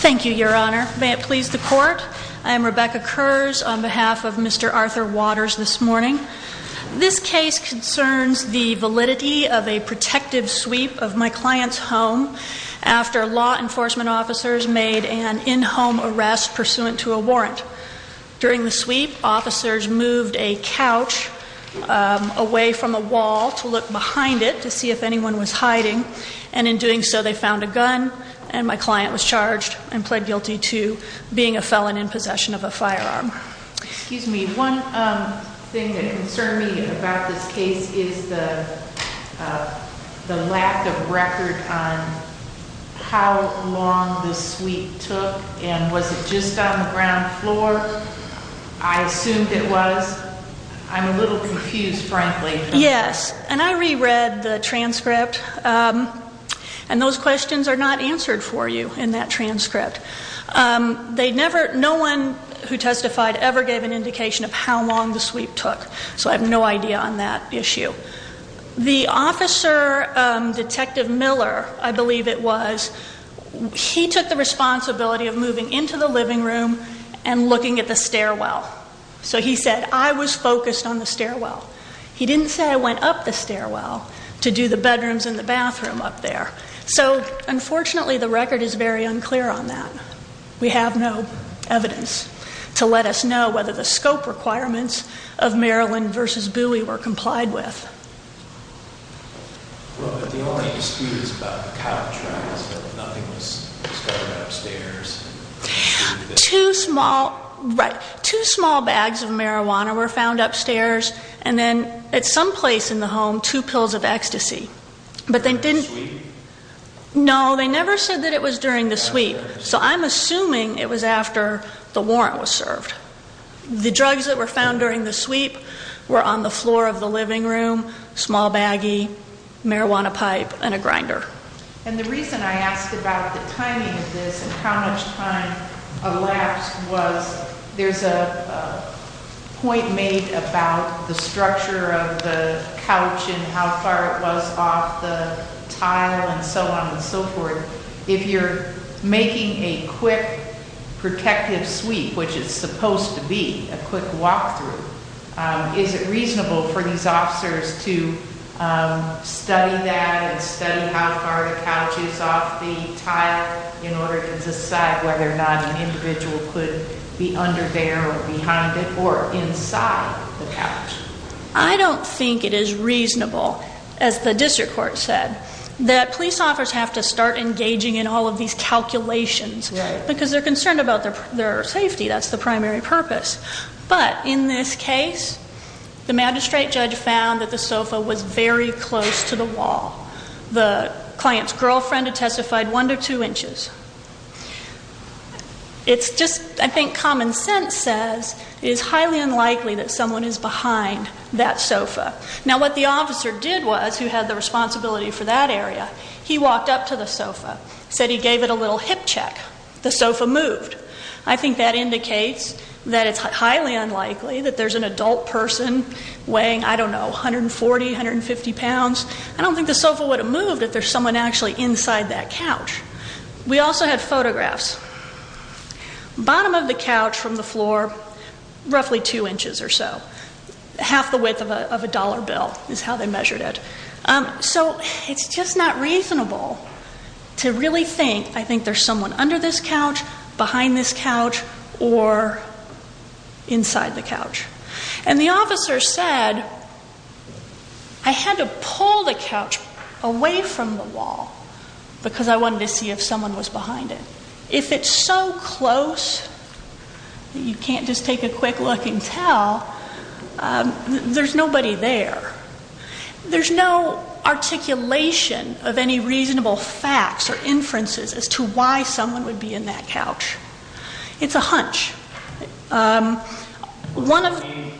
Thank you, Your Honor. May it please the Court, I am Rebecca Kurz on behalf of Mr. Arthur Waters this morning. This case concerns the validity of a protective sweep of my client's home after law arrest pursuant to a warrant. During the sweep, officers moved a couch away from a wall to look behind it to see if anyone was hiding, and in doing so they found a gun and my client was charged and pled guilty to being a felon in possession of a firearm. Excuse me, one thing that concerned me about this case is the lack of record on how long the sweep took and was it just on the ground floor? I assumed it was. I'm a little confused, frankly. Yes, and I reread the transcript and those questions are not answered for you in that transcript. No one who testified ever gave an indication of how long the sweep took, so I have no idea on that issue. The officer, Detective Miller, I believe it was, he took the responsibility of moving into the living room and looking at the stairwell. So he said, I was focused on the stairwell. He didn't say I went up the stairwell to do the bedrooms and the bathroom up there. So, unfortunately, the record is very unclear on that. We have no evidence to let us know whether the scope requirements of Maryland v. Bowie were complied with. Well, but the only excuse about the counter trial is that nothing was discovered upstairs. And the reason I asked about the timing of this and how much time elapsed was there's a point made about the structure of the couch and how far it was off the tile and so on and so forth. If you're making a quick protective sweep, which is supposed to be a quick walkthrough, is it reasonable for these officers to study that and study how far the couch is off the tile in order to decide whether or not an individual could be under there or behind it or inside the couch? I don't think it is reasonable, as the district court said, that police officers have to start engaging in all of these calculations because they're concerned about their safety. That's the primary purpose. But in this case, the magistrate judge found that the sofa was very close to the wall. The client's girlfriend had testified one to two inches. It's just, I think, common sense says it is highly unlikely that someone is behind that sofa. Now, what the officer did was, who had the responsibility for that area, he walked up to the sofa, said he gave it a little hip check. The sofa moved. I think that indicates that it's highly unlikely that there's an adult person weighing, I don't know, 140, 150 pounds. I don't think the sofa would have moved if there's someone actually inside that couch. We also had photographs. Bottom of the couch from the floor, roughly two inches or so. Half the width of a dollar bill is how they measured it. So it's just not reasonable to really think, I think there's someone under this couch, behind this couch, or inside the couch. And the officer said, I had to pull the couch away from the wall because I wanted to see if someone was behind it. If it's so close that you can't just take a quick look and tell, there's nobody there. There's no articulation of any reasonable facts or inferences as to why someone would be in that couch. It's a hunch. One of the...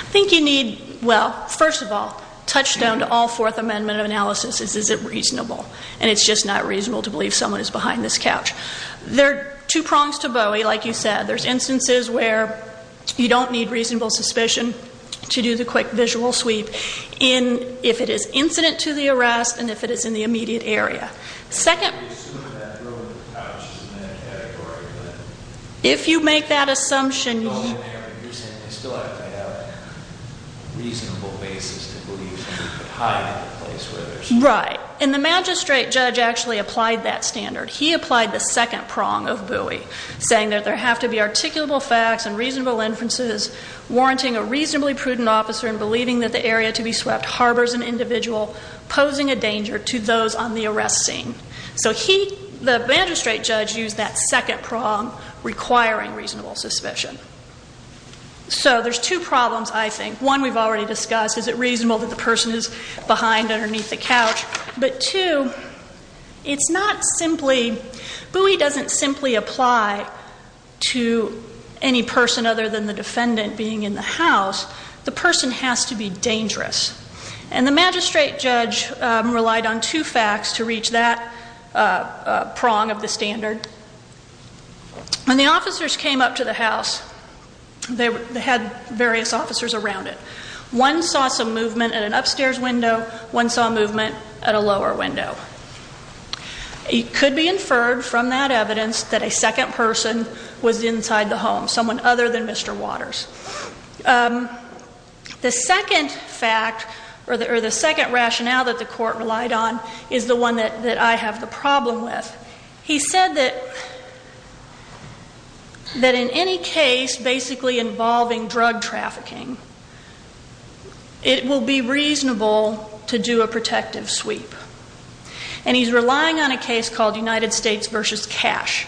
I think you need, well, first of all, touchstone to all Fourth Amendment analysis is, is it reasonable? And it's just not reasonable to believe someone is behind this couch. There are two prongs to Bowie, like you said. There's instances where you don't need reasonable suspicion to do the quick visual sweep in if it is incident to the arrest and if it is in the immediate area. Second... If you make that assumption... Right. And the magistrate judge actually applied that standard. He applied the second prong of Bowie, saying that there have to be articulable facts and reasonable inferences, warranting a reasonably prudent officer in believing that the area to be swept harbors an individual posing a danger to those on the arrest scene. So he, the magistrate judge, used that second prong, requiring reasonable suspicion. So there's two problems, I think. One we've already discussed. Is it reasonable that the person is behind, underneath the couch? But two, it's not simply... Bowie doesn't simply apply to any person other than the defendant being in the house. The person has to be dangerous. And the magistrate judge relied on two facts to reach that prong of the standard. When the officers came up to the house, they had various officers around it. One saw some movement at an upstairs window. One saw movement at a lower window. It could be inferred from that evidence that a second person was inside the home, someone other than Mr. Waters. The second fact, or the second rationale that the court relied on, is the one that I have the problem with. He said that in any case basically involving drug trafficking, it will be reasonable to do a protective sweep. And he's relying on a case called United States v. Cash.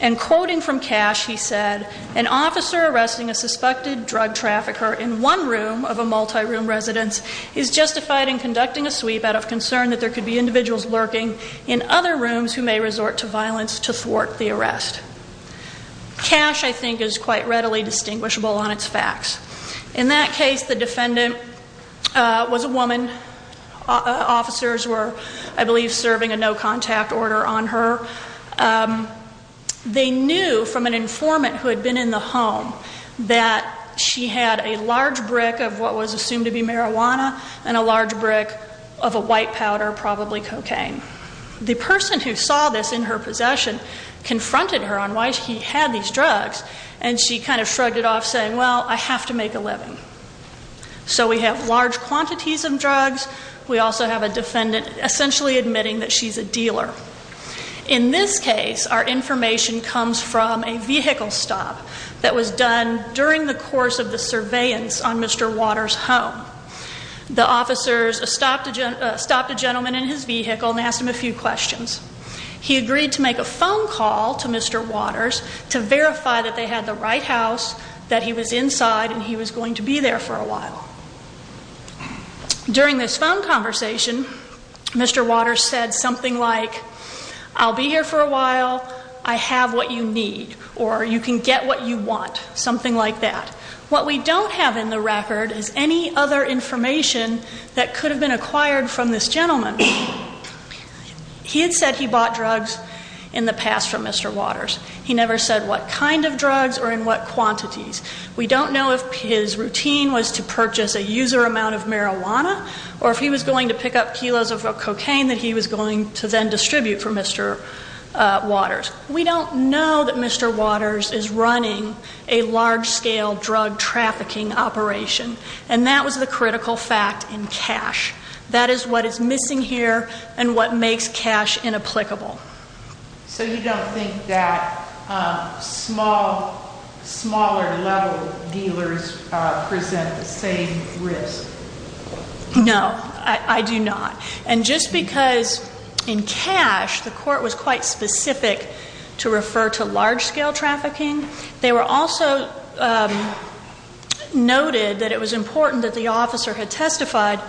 And quoting from Cash, he said, an officer arresting a suspected drug trafficker in one room of a multi-room residence is justified in conducting a sweep out of concern that there could be individuals lurking in other rooms who may resort to violence to thwart the arrest. Cash, I think, is quite readily distinguishable on its facts. In that case, the defendant was a woman. Officers were, I believe, serving a no contact order on her. They knew from an informant who had been in the home that she had a large brick of what was assumed to be marijuana and a large brick of a white powder, probably cocaine. The person who saw this in her possession confronted her on why he had these drugs. And she kind of shrugged it off saying, well, I have to make a living. So we have large quantities of drugs. We also have a defendant essentially admitting that she's a dealer. In this case, our information comes from a vehicle stop that was done during the course of the surveillance on Mr. Waters' home. The officers stopped a gentleman in his vehicle and asked him a few questions. He agreed to make a phone call to Mr. Waters to verify that they had the right house, that he was inside, and he was going to be there for a while. During this phone conversation, Mr. Waters said something like, I'll be here for a while. I have what you need, or you can get what you want, something like that. What we don't have in the record is any other information that could have been acquired from this gentleman. He had said he bought drugs in the past from Mr. Waters. He never said what kind of drugs or in what quantities. We don't know if his routine was to purchase a user amount of marijuana or if he was going to pick up kilos of cocaine that he was going to then distribute for Mr. Waters. We don't know that Mr. Waters is running a large-scale drug trafficking operation, and that was the critical fact in cash. That is what is missing here and what makes cash inapplicable. So you don't think that small, smaller-level dealers present the same risk? No, I do not. And just because in cash the court was quite specific to refer to large-scale trafficking, they were also noted that it was important that the officer had testified,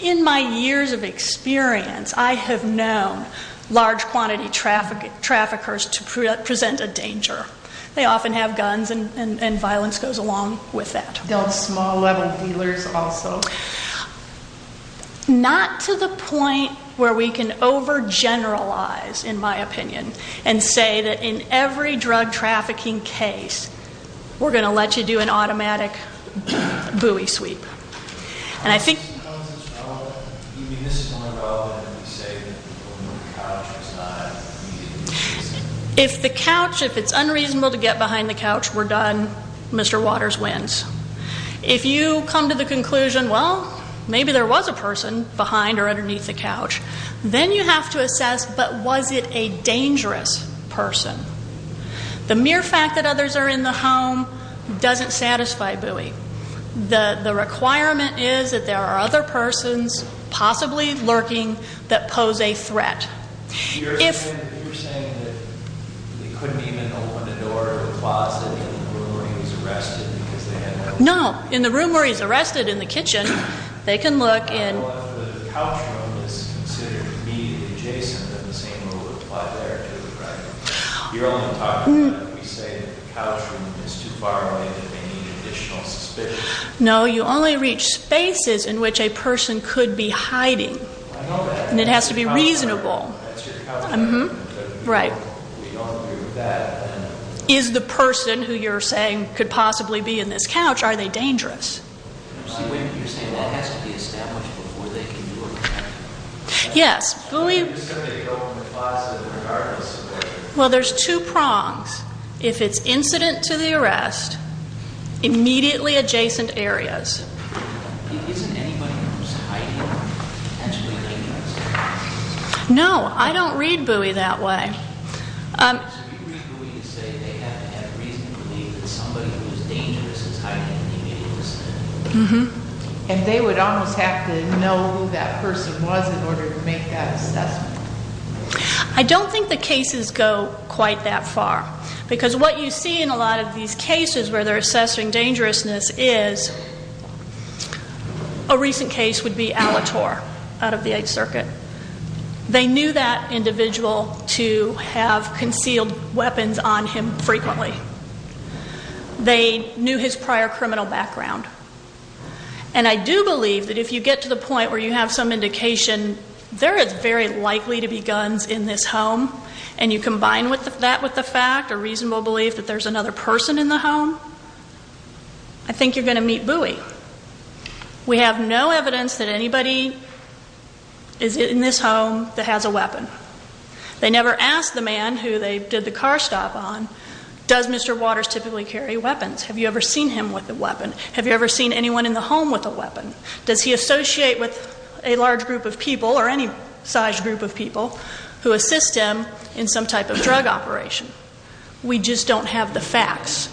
in my years of experience, I have known large-quantity traffickers to present a danger. They often have guns, and violence goes along with that. Don't small-level dealers also? Not to the point where we can overgeneralize, in my opinion, and say that in every drug trafficking case, we're going to let you do an automatic buoy sweep. How is this relevant? Do you mean this is more relevant if we say that the person on the couch was not immediately arrested? If the couch, if it's unreasonable to get behind the couch, we're done. Mr. Waters wins. If you come to the conclusion, well, maybe there was a person behind or underneath the couch, then you have to assess, but was it a dangerous person? The mere fact that others are in the home doesn't satisfy buoy. The requirement is that there are other persons possibly lurking that pose a threat. You're saying that they couldn't even open the door of the closet in the room where he was arrested? No, in the room where he was arrested, in the kitchen, they can look in. Well, if the couch room is considered immediately adjacent, then the same rule would apply there, too, right? You're only talking about if we say that the couch room is too far away to make any additional suspicions. No, you only reach spaces in which a person could be hiding. I know that. And it has to be reasonable. That's your couch room. Right. We don't do that. Is the person who you're saying could possibly be in this couch, are they dangerous? You're saying that has to be established before they can do a buoy sweep? Yes. Somebody could open the closet regardless. Well, there's two prongs. If it's incident to the arrest, immediately adjacent areas. Isn't anybody who's hiding potentially dangerous? No, I don't read buoy that way. So you read buoy to say they have to have reason to believe that somebody who's dangerous is hiding immediately? Mm-hmm. And they would almost have to know who that person was in order to make that assessment? I don't think the cases go quite that far, because what you see in a lot of these cases where they're assessing dangerousness is a recent case would be Alator out of the Eighth Circuit. They knew that individual to have concealed weapons on him frequently. They knew his prior criminal background. And I do believe that if you get to the point where you have some indication there is very likely to be guns in this home, and you combine that with the fact or reasonable belief that there's another person in the home, I think you're going to meet buoy. We have no evidence that anybody is in this home that has a weapon. They never asked the man who they did the car stop on, does Mr. Waters typically carry weapons? Have you ever seen him with a weapon? Have you ever seen anyone in the home with a weapon? Does he associate with a large group of people or any size group of people who assist him in some type of drug operation? We just don't have the facts.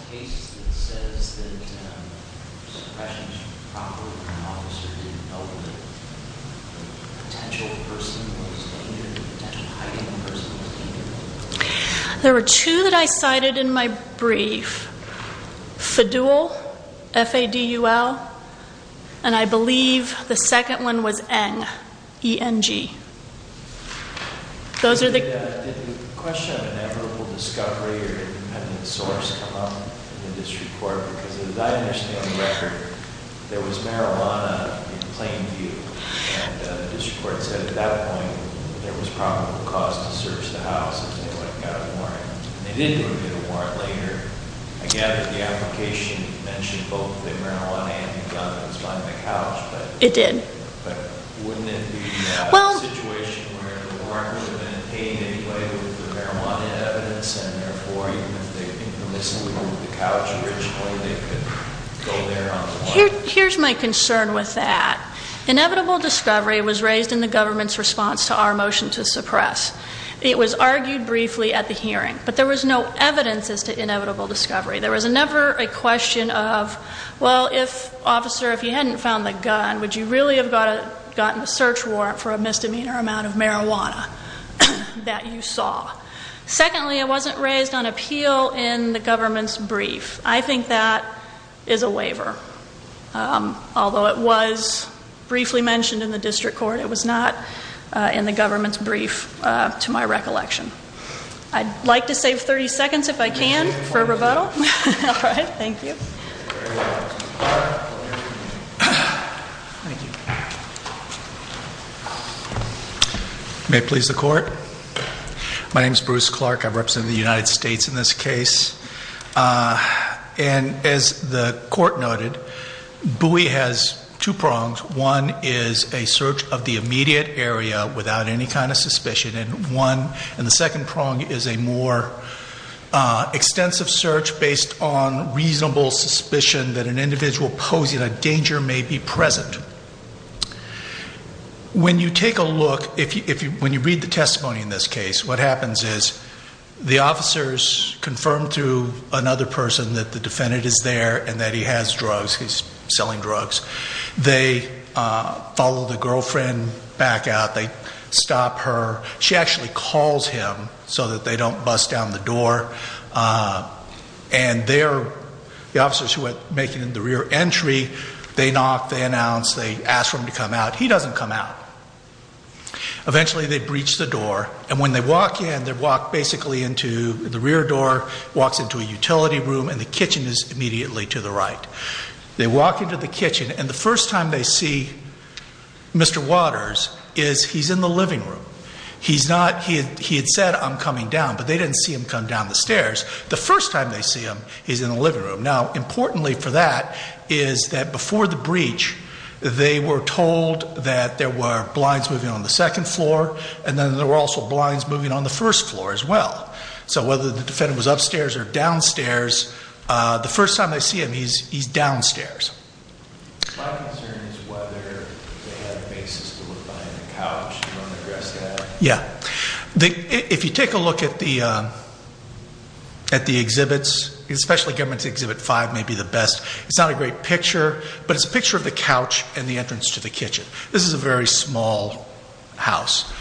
There were two that I cited in my brief, FDUL, F-A-D-U-L, and I believe the second one was NG, E-N-G. Did the question of inevitable discovery or independent source come up in the district court? Because as I understand the record, there was marijuana in plain view. And the district court said at that point there was probable cause to search the house if anyone got a warrant. And they did do a warrant later. I gather the application mentioned both the marijuana and the guns on the couch. It did. But wouldn't it be a situation where the warrant would have been obtained anyway with the marijuana evidence and therefore even if they had been missing the couch originally they could go there on the warrant? Here's my concern with that. Inevitable discovery was raised in the government's response to our motion to suppress. It was argued briefly at the hearing. But there was no evidence as to inevitable discovery. There was never a question of, well, if, officer, if you hadn't found the gun, would you really have gotten a search warrant for a misdemeanor amount of marijuana that you saw? Secondly, it wasn't raised on appeal in the government's brief. I think that is a waiver, although it was briefly mentioned in the district court. It was not in the government's brief to my recollection. I'd like to save 30 seconds if I can for rebuttal. All right. Thank you. May it please the court? My name is Bruce Clark. I represent the United States in this case. And as the court noted, Bowie has two prongs. One is a search of the immediate area without any kind of suspicion. And the second prong is a more extensive search based on reasonable suspicion that an individual posing a danger may be present. When you take a look, when you read the testimony in this case, what happens is the officers confirm to another person that the defendant is there and that he has drugs, he's selling drugs. They follow the girlfriend back out. They stop her. She actually calls him so that they don't bust down the door. And the officers who are making the rear entry, they knock, they announce, they ask for him to come out. He doesn't come out. Eventually, they breach the door. And when they walk in, they walk basically into the rear door, walks into a utility room, and the kitchen is immediately to the right. They walk into the kitchen, and the first time they see Mr. Waters is he's in the living room. He's not, he had said, I'm coming down. But they didn't see him come down the stairs. The first time they see him, he's in the living room. Now, importantly for that is that before the breach, they were told that there were blinds moving on the second floor, and then there were also blinds moving on the first floor as well. So whether the defendant was upstairs or downstairs, the first time they see him, he's downstairs. Yeah. If you take a look at the exhibits, especially Government's Exhibit 5 may be the best. It's not a great picture, but it's a picture of the couch and the entrance to the kitchen. This is a very small house.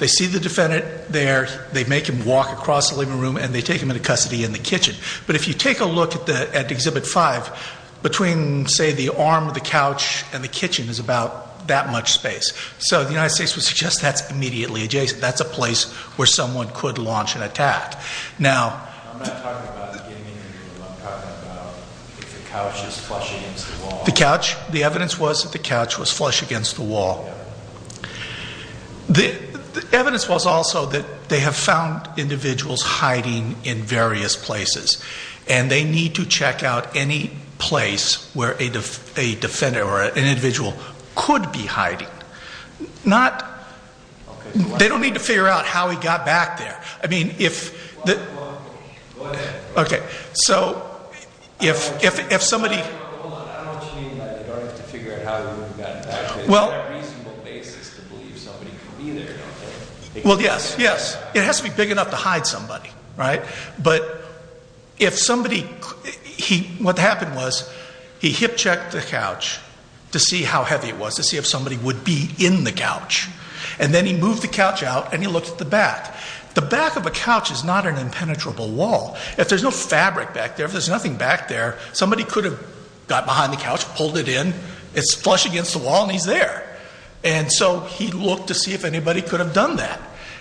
They see the defendant there. They make him walk across the living room, and they take him into custody in the kitchen. But if you take a look at Exhibit 5, between, say, the arm of the couch and the kitchen is about that much space. So the United States would suggest that's immediately adjacent. That's a place where someone could launch an attack. Now— The couch? The evidence was that the couch was flush against the wall. The evidence was also that they have found individuals hiding in various places, and they need to check out any place where a defendant or an individual could be hiding. Not—they don't need to figure out how he got back there. I mean, if— Okay. So if somebody— Well— Well, yes, yes. It has to be big enough to hide somebody, right? But if somebody—what happened was he hip-checked the couch to see how heavy it was, to see if somebody would be in the couch. And then he moved the couch out, and he looked at the back. The back of a couch is not an impenetrable wall. If there's no fabric back there, if there's nothing back there, somebody could have got behind the couch, pulled it in. It's flush against the wall, and he's there. And so he looked to see if anybody could have done that.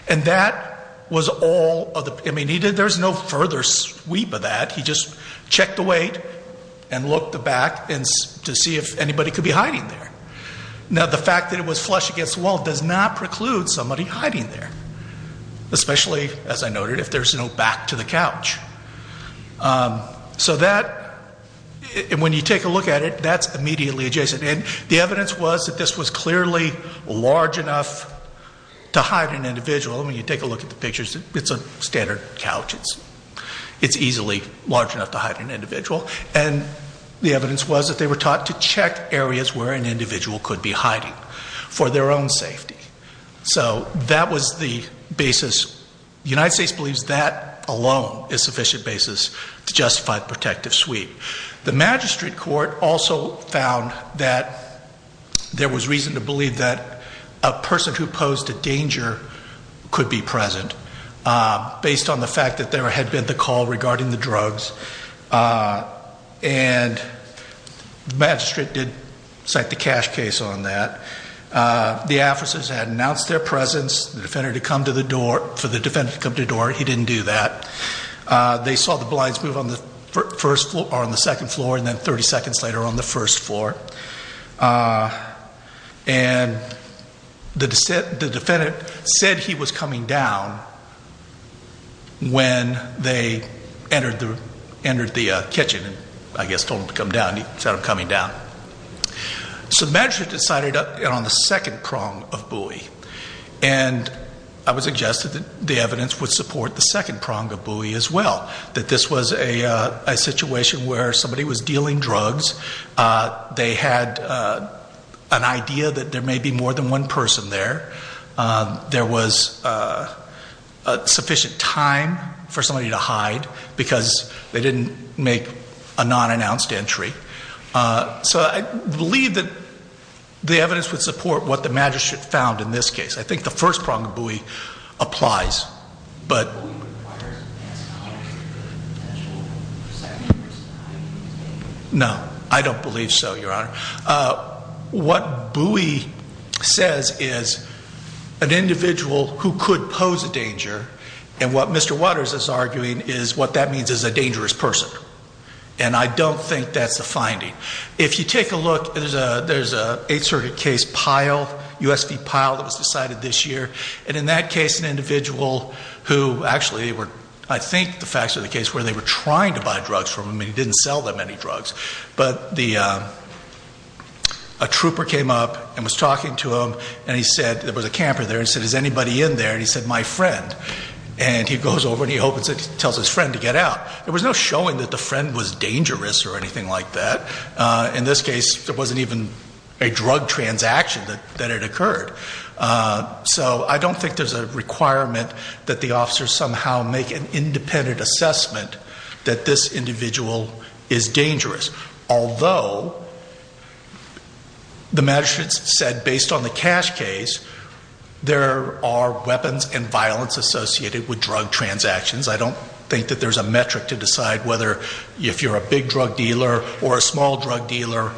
And that was all of the—I mean, there's no further sweep of that. He just checked the weight and looked the back to see if anybody could be hiding there. Now, the fact that it was flush against the wall does not preclude somebody hiding there, especially, as I noted, if there's no back to the couch. So that—and when you take a look at it, that's immediately adjacent. And the evidence was that this was clearly large enough to hide an individual. I mean, you take a look at the pictures. It's a standard couch. It's easily large enough to hide an individual. And the evidence was that they were taught to check areas where an individual could be hiding for their own safety. So that was the basis. The United States believes that alone is a sufficient basis to justify the protective sweep. The magistrate court also found that there was reason to believe that a person who posed a danger could be present based on the fact that there had been the call regarding the drugs. And the magistrate did cite the cash case on that. The officers had announced their presence. The defendant had come to the door. For the defendant to come to the door, he didn't do that. They saw the blinds move on the first floor or on the second floor and then 30 seconds later on the first floor. And the defendant said he was coming down when they entered the kitchen and I guess told him to come down. He said, I'm coming down. So the magistrate decided on the second prong of Bowie. And I would suggest that the evidence would support the second prong of Bowie as well, that this was a situation where somebody was dealing drugs. They had an idea that there may be more than one person there. There was sufficient time for somebody to hide because they didn't make a non-announced entry. So I believe that the evidence would support what the magistrate found in this case. I think the first prong of Bowie applies. No, I don't believe so, Your Honor. What Bowie says is an individual who could pose a danger, and what Mr. Waters is arguing is what that means is a dangerous person. And I don't think that's the finding. If you take a look, there's an Eighth Circuit case, Pyle, U.S. v. Pyle that was decided this year, and in that case an individual who actually I think the facts of the case were they were trying to buy drugs from him and he didn't sell them any drugs. But a trooper came up and was talking to him and he said, there was a camper there and he said, is anybody in there? And he said, my friend. And he goes over and he tells his friend to get out. There was no showing that the friend was dangerous or anything like that. In this case, there wasn't even a drug transaction that had occurred. So I don't think there's a requirement that the officers somehow make an independent assessment that this individual is dangerous, although the magistrate said based on the cash case, there are weapons and violence associated with drug transactions. I don't think that there's a metric to decide whether if you're a big drug dealer or a small drug dealer,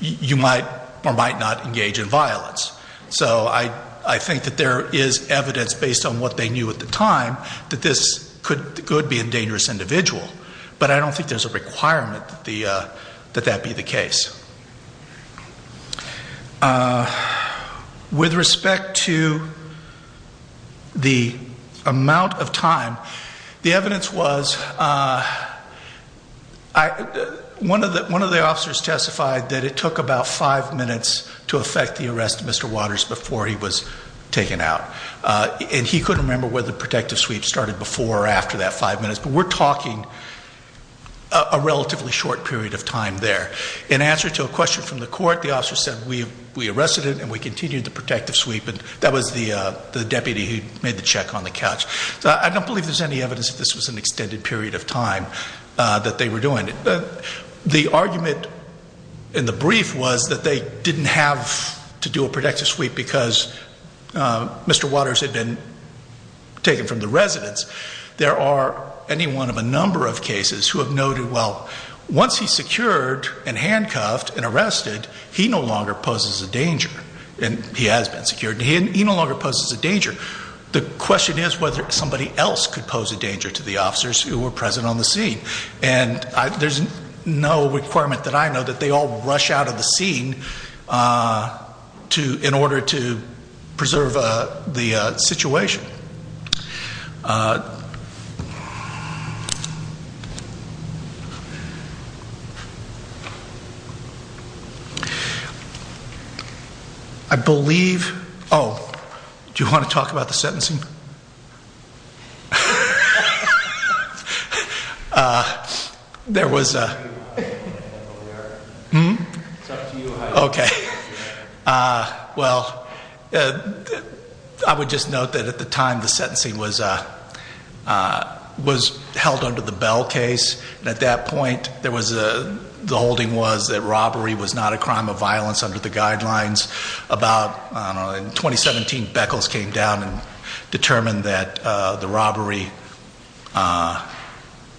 you might or might not engage in violence. So I think that there is evidence based on what they knew at the time that this could be a dangerous individual. But I don't think there's a requirement that that be the case. With respect to the amount of time, the evidence was one of the officers testified that it took about five minutes to effect the arrest of Mr. Waters before he was taken out. And he couldn't remember whether the protective sweep started before or after that five minutes, but we're talking a relatively short period of time there. In answer to a question from the court, the officer said, we arrested him and we continued the protective sweep, and that was the deputy who made the check on the couch. So I don't believe there's any evidence that this was an extended period of time that they were doing it. The argument in the brief was that they didn't have to do a protective sweep because Mr. Waters had been taken from the residence. There are any one of a number of cases who have noted, well, once he's secured and handcuffed and arrested, he no longer poses a danger. And he has been secured. He no longer poses a danger. The question is whether somebody else could pose a danger to the officers who were present on the scene. And there's no requirement that I know that they all rush out of the scene in order to preserve the situation. I believe, oh, do you want to talk about the sentencing? Well, I would just note that at the time the sentencing was held under the Bell case. At that point, the holding was that robbery was not a crime of violence under the guidelines. In 2017, Beckles came down and determined that the robbery,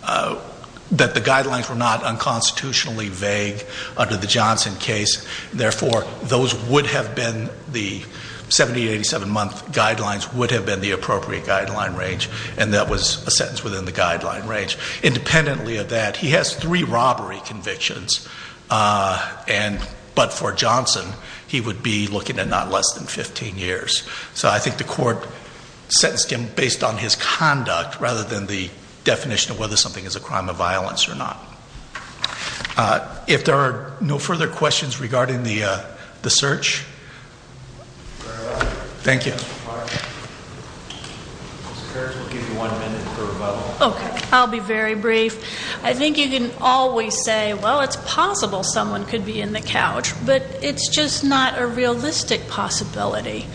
that the guidelines were not unconstitutionally vague under the Johnson case. Therefore, those would have been the 70 to 87-month guidelines would have been the appropriate guideline range. And that was a sentence within the guideline range. Independently of that, he has three robbery convictions. But for Johnson, he would be looking at not less than 15 years. So I think the court sentenced him based on his conduct rather than the definition of whether something is a crime of violence or not. If there are no further questions regarding the search. Thank you. I'll be very brief. I think you can always say, well, it's possible someone could be in the couch. But it's just not a realistic possibility.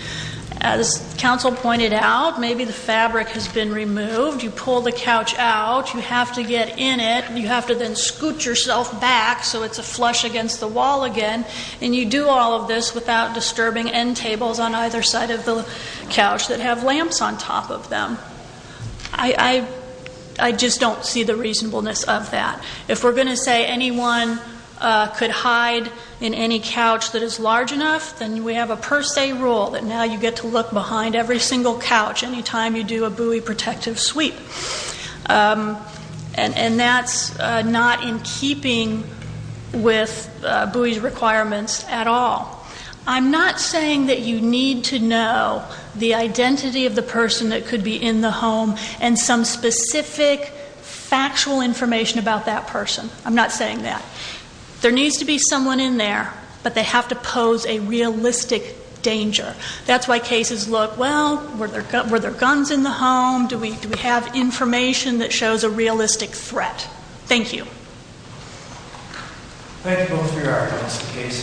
As counsel pointed out, maybe the fabric has been removed. You pull the couch out. You have to get in it. You have to then scoot yourself back so it's a flush against the wall again. And you do all of this without disturbing end tables on either side of the couch that have lamps on top of them. I just don't see the reasonableness of that. If we're going to say anyone could hide in any couch that is large enough, then we have a per se rule that now you get to look behind every single couch any time you do a buoy protective sweep. And that's not in keeping with buoy's requirements at all. I'm not saying that you need to know the identity of the person that could be in the home and some specific factual information about that person. I'm not saying that. There needs to be someone in there, but they have to pose a realistic danger. That's why cases look, well, were there guns in the home? Do we have information that shows a realistic threat? Thank you. Thank you both for your arguments. The case is submitted. Court is adjourned.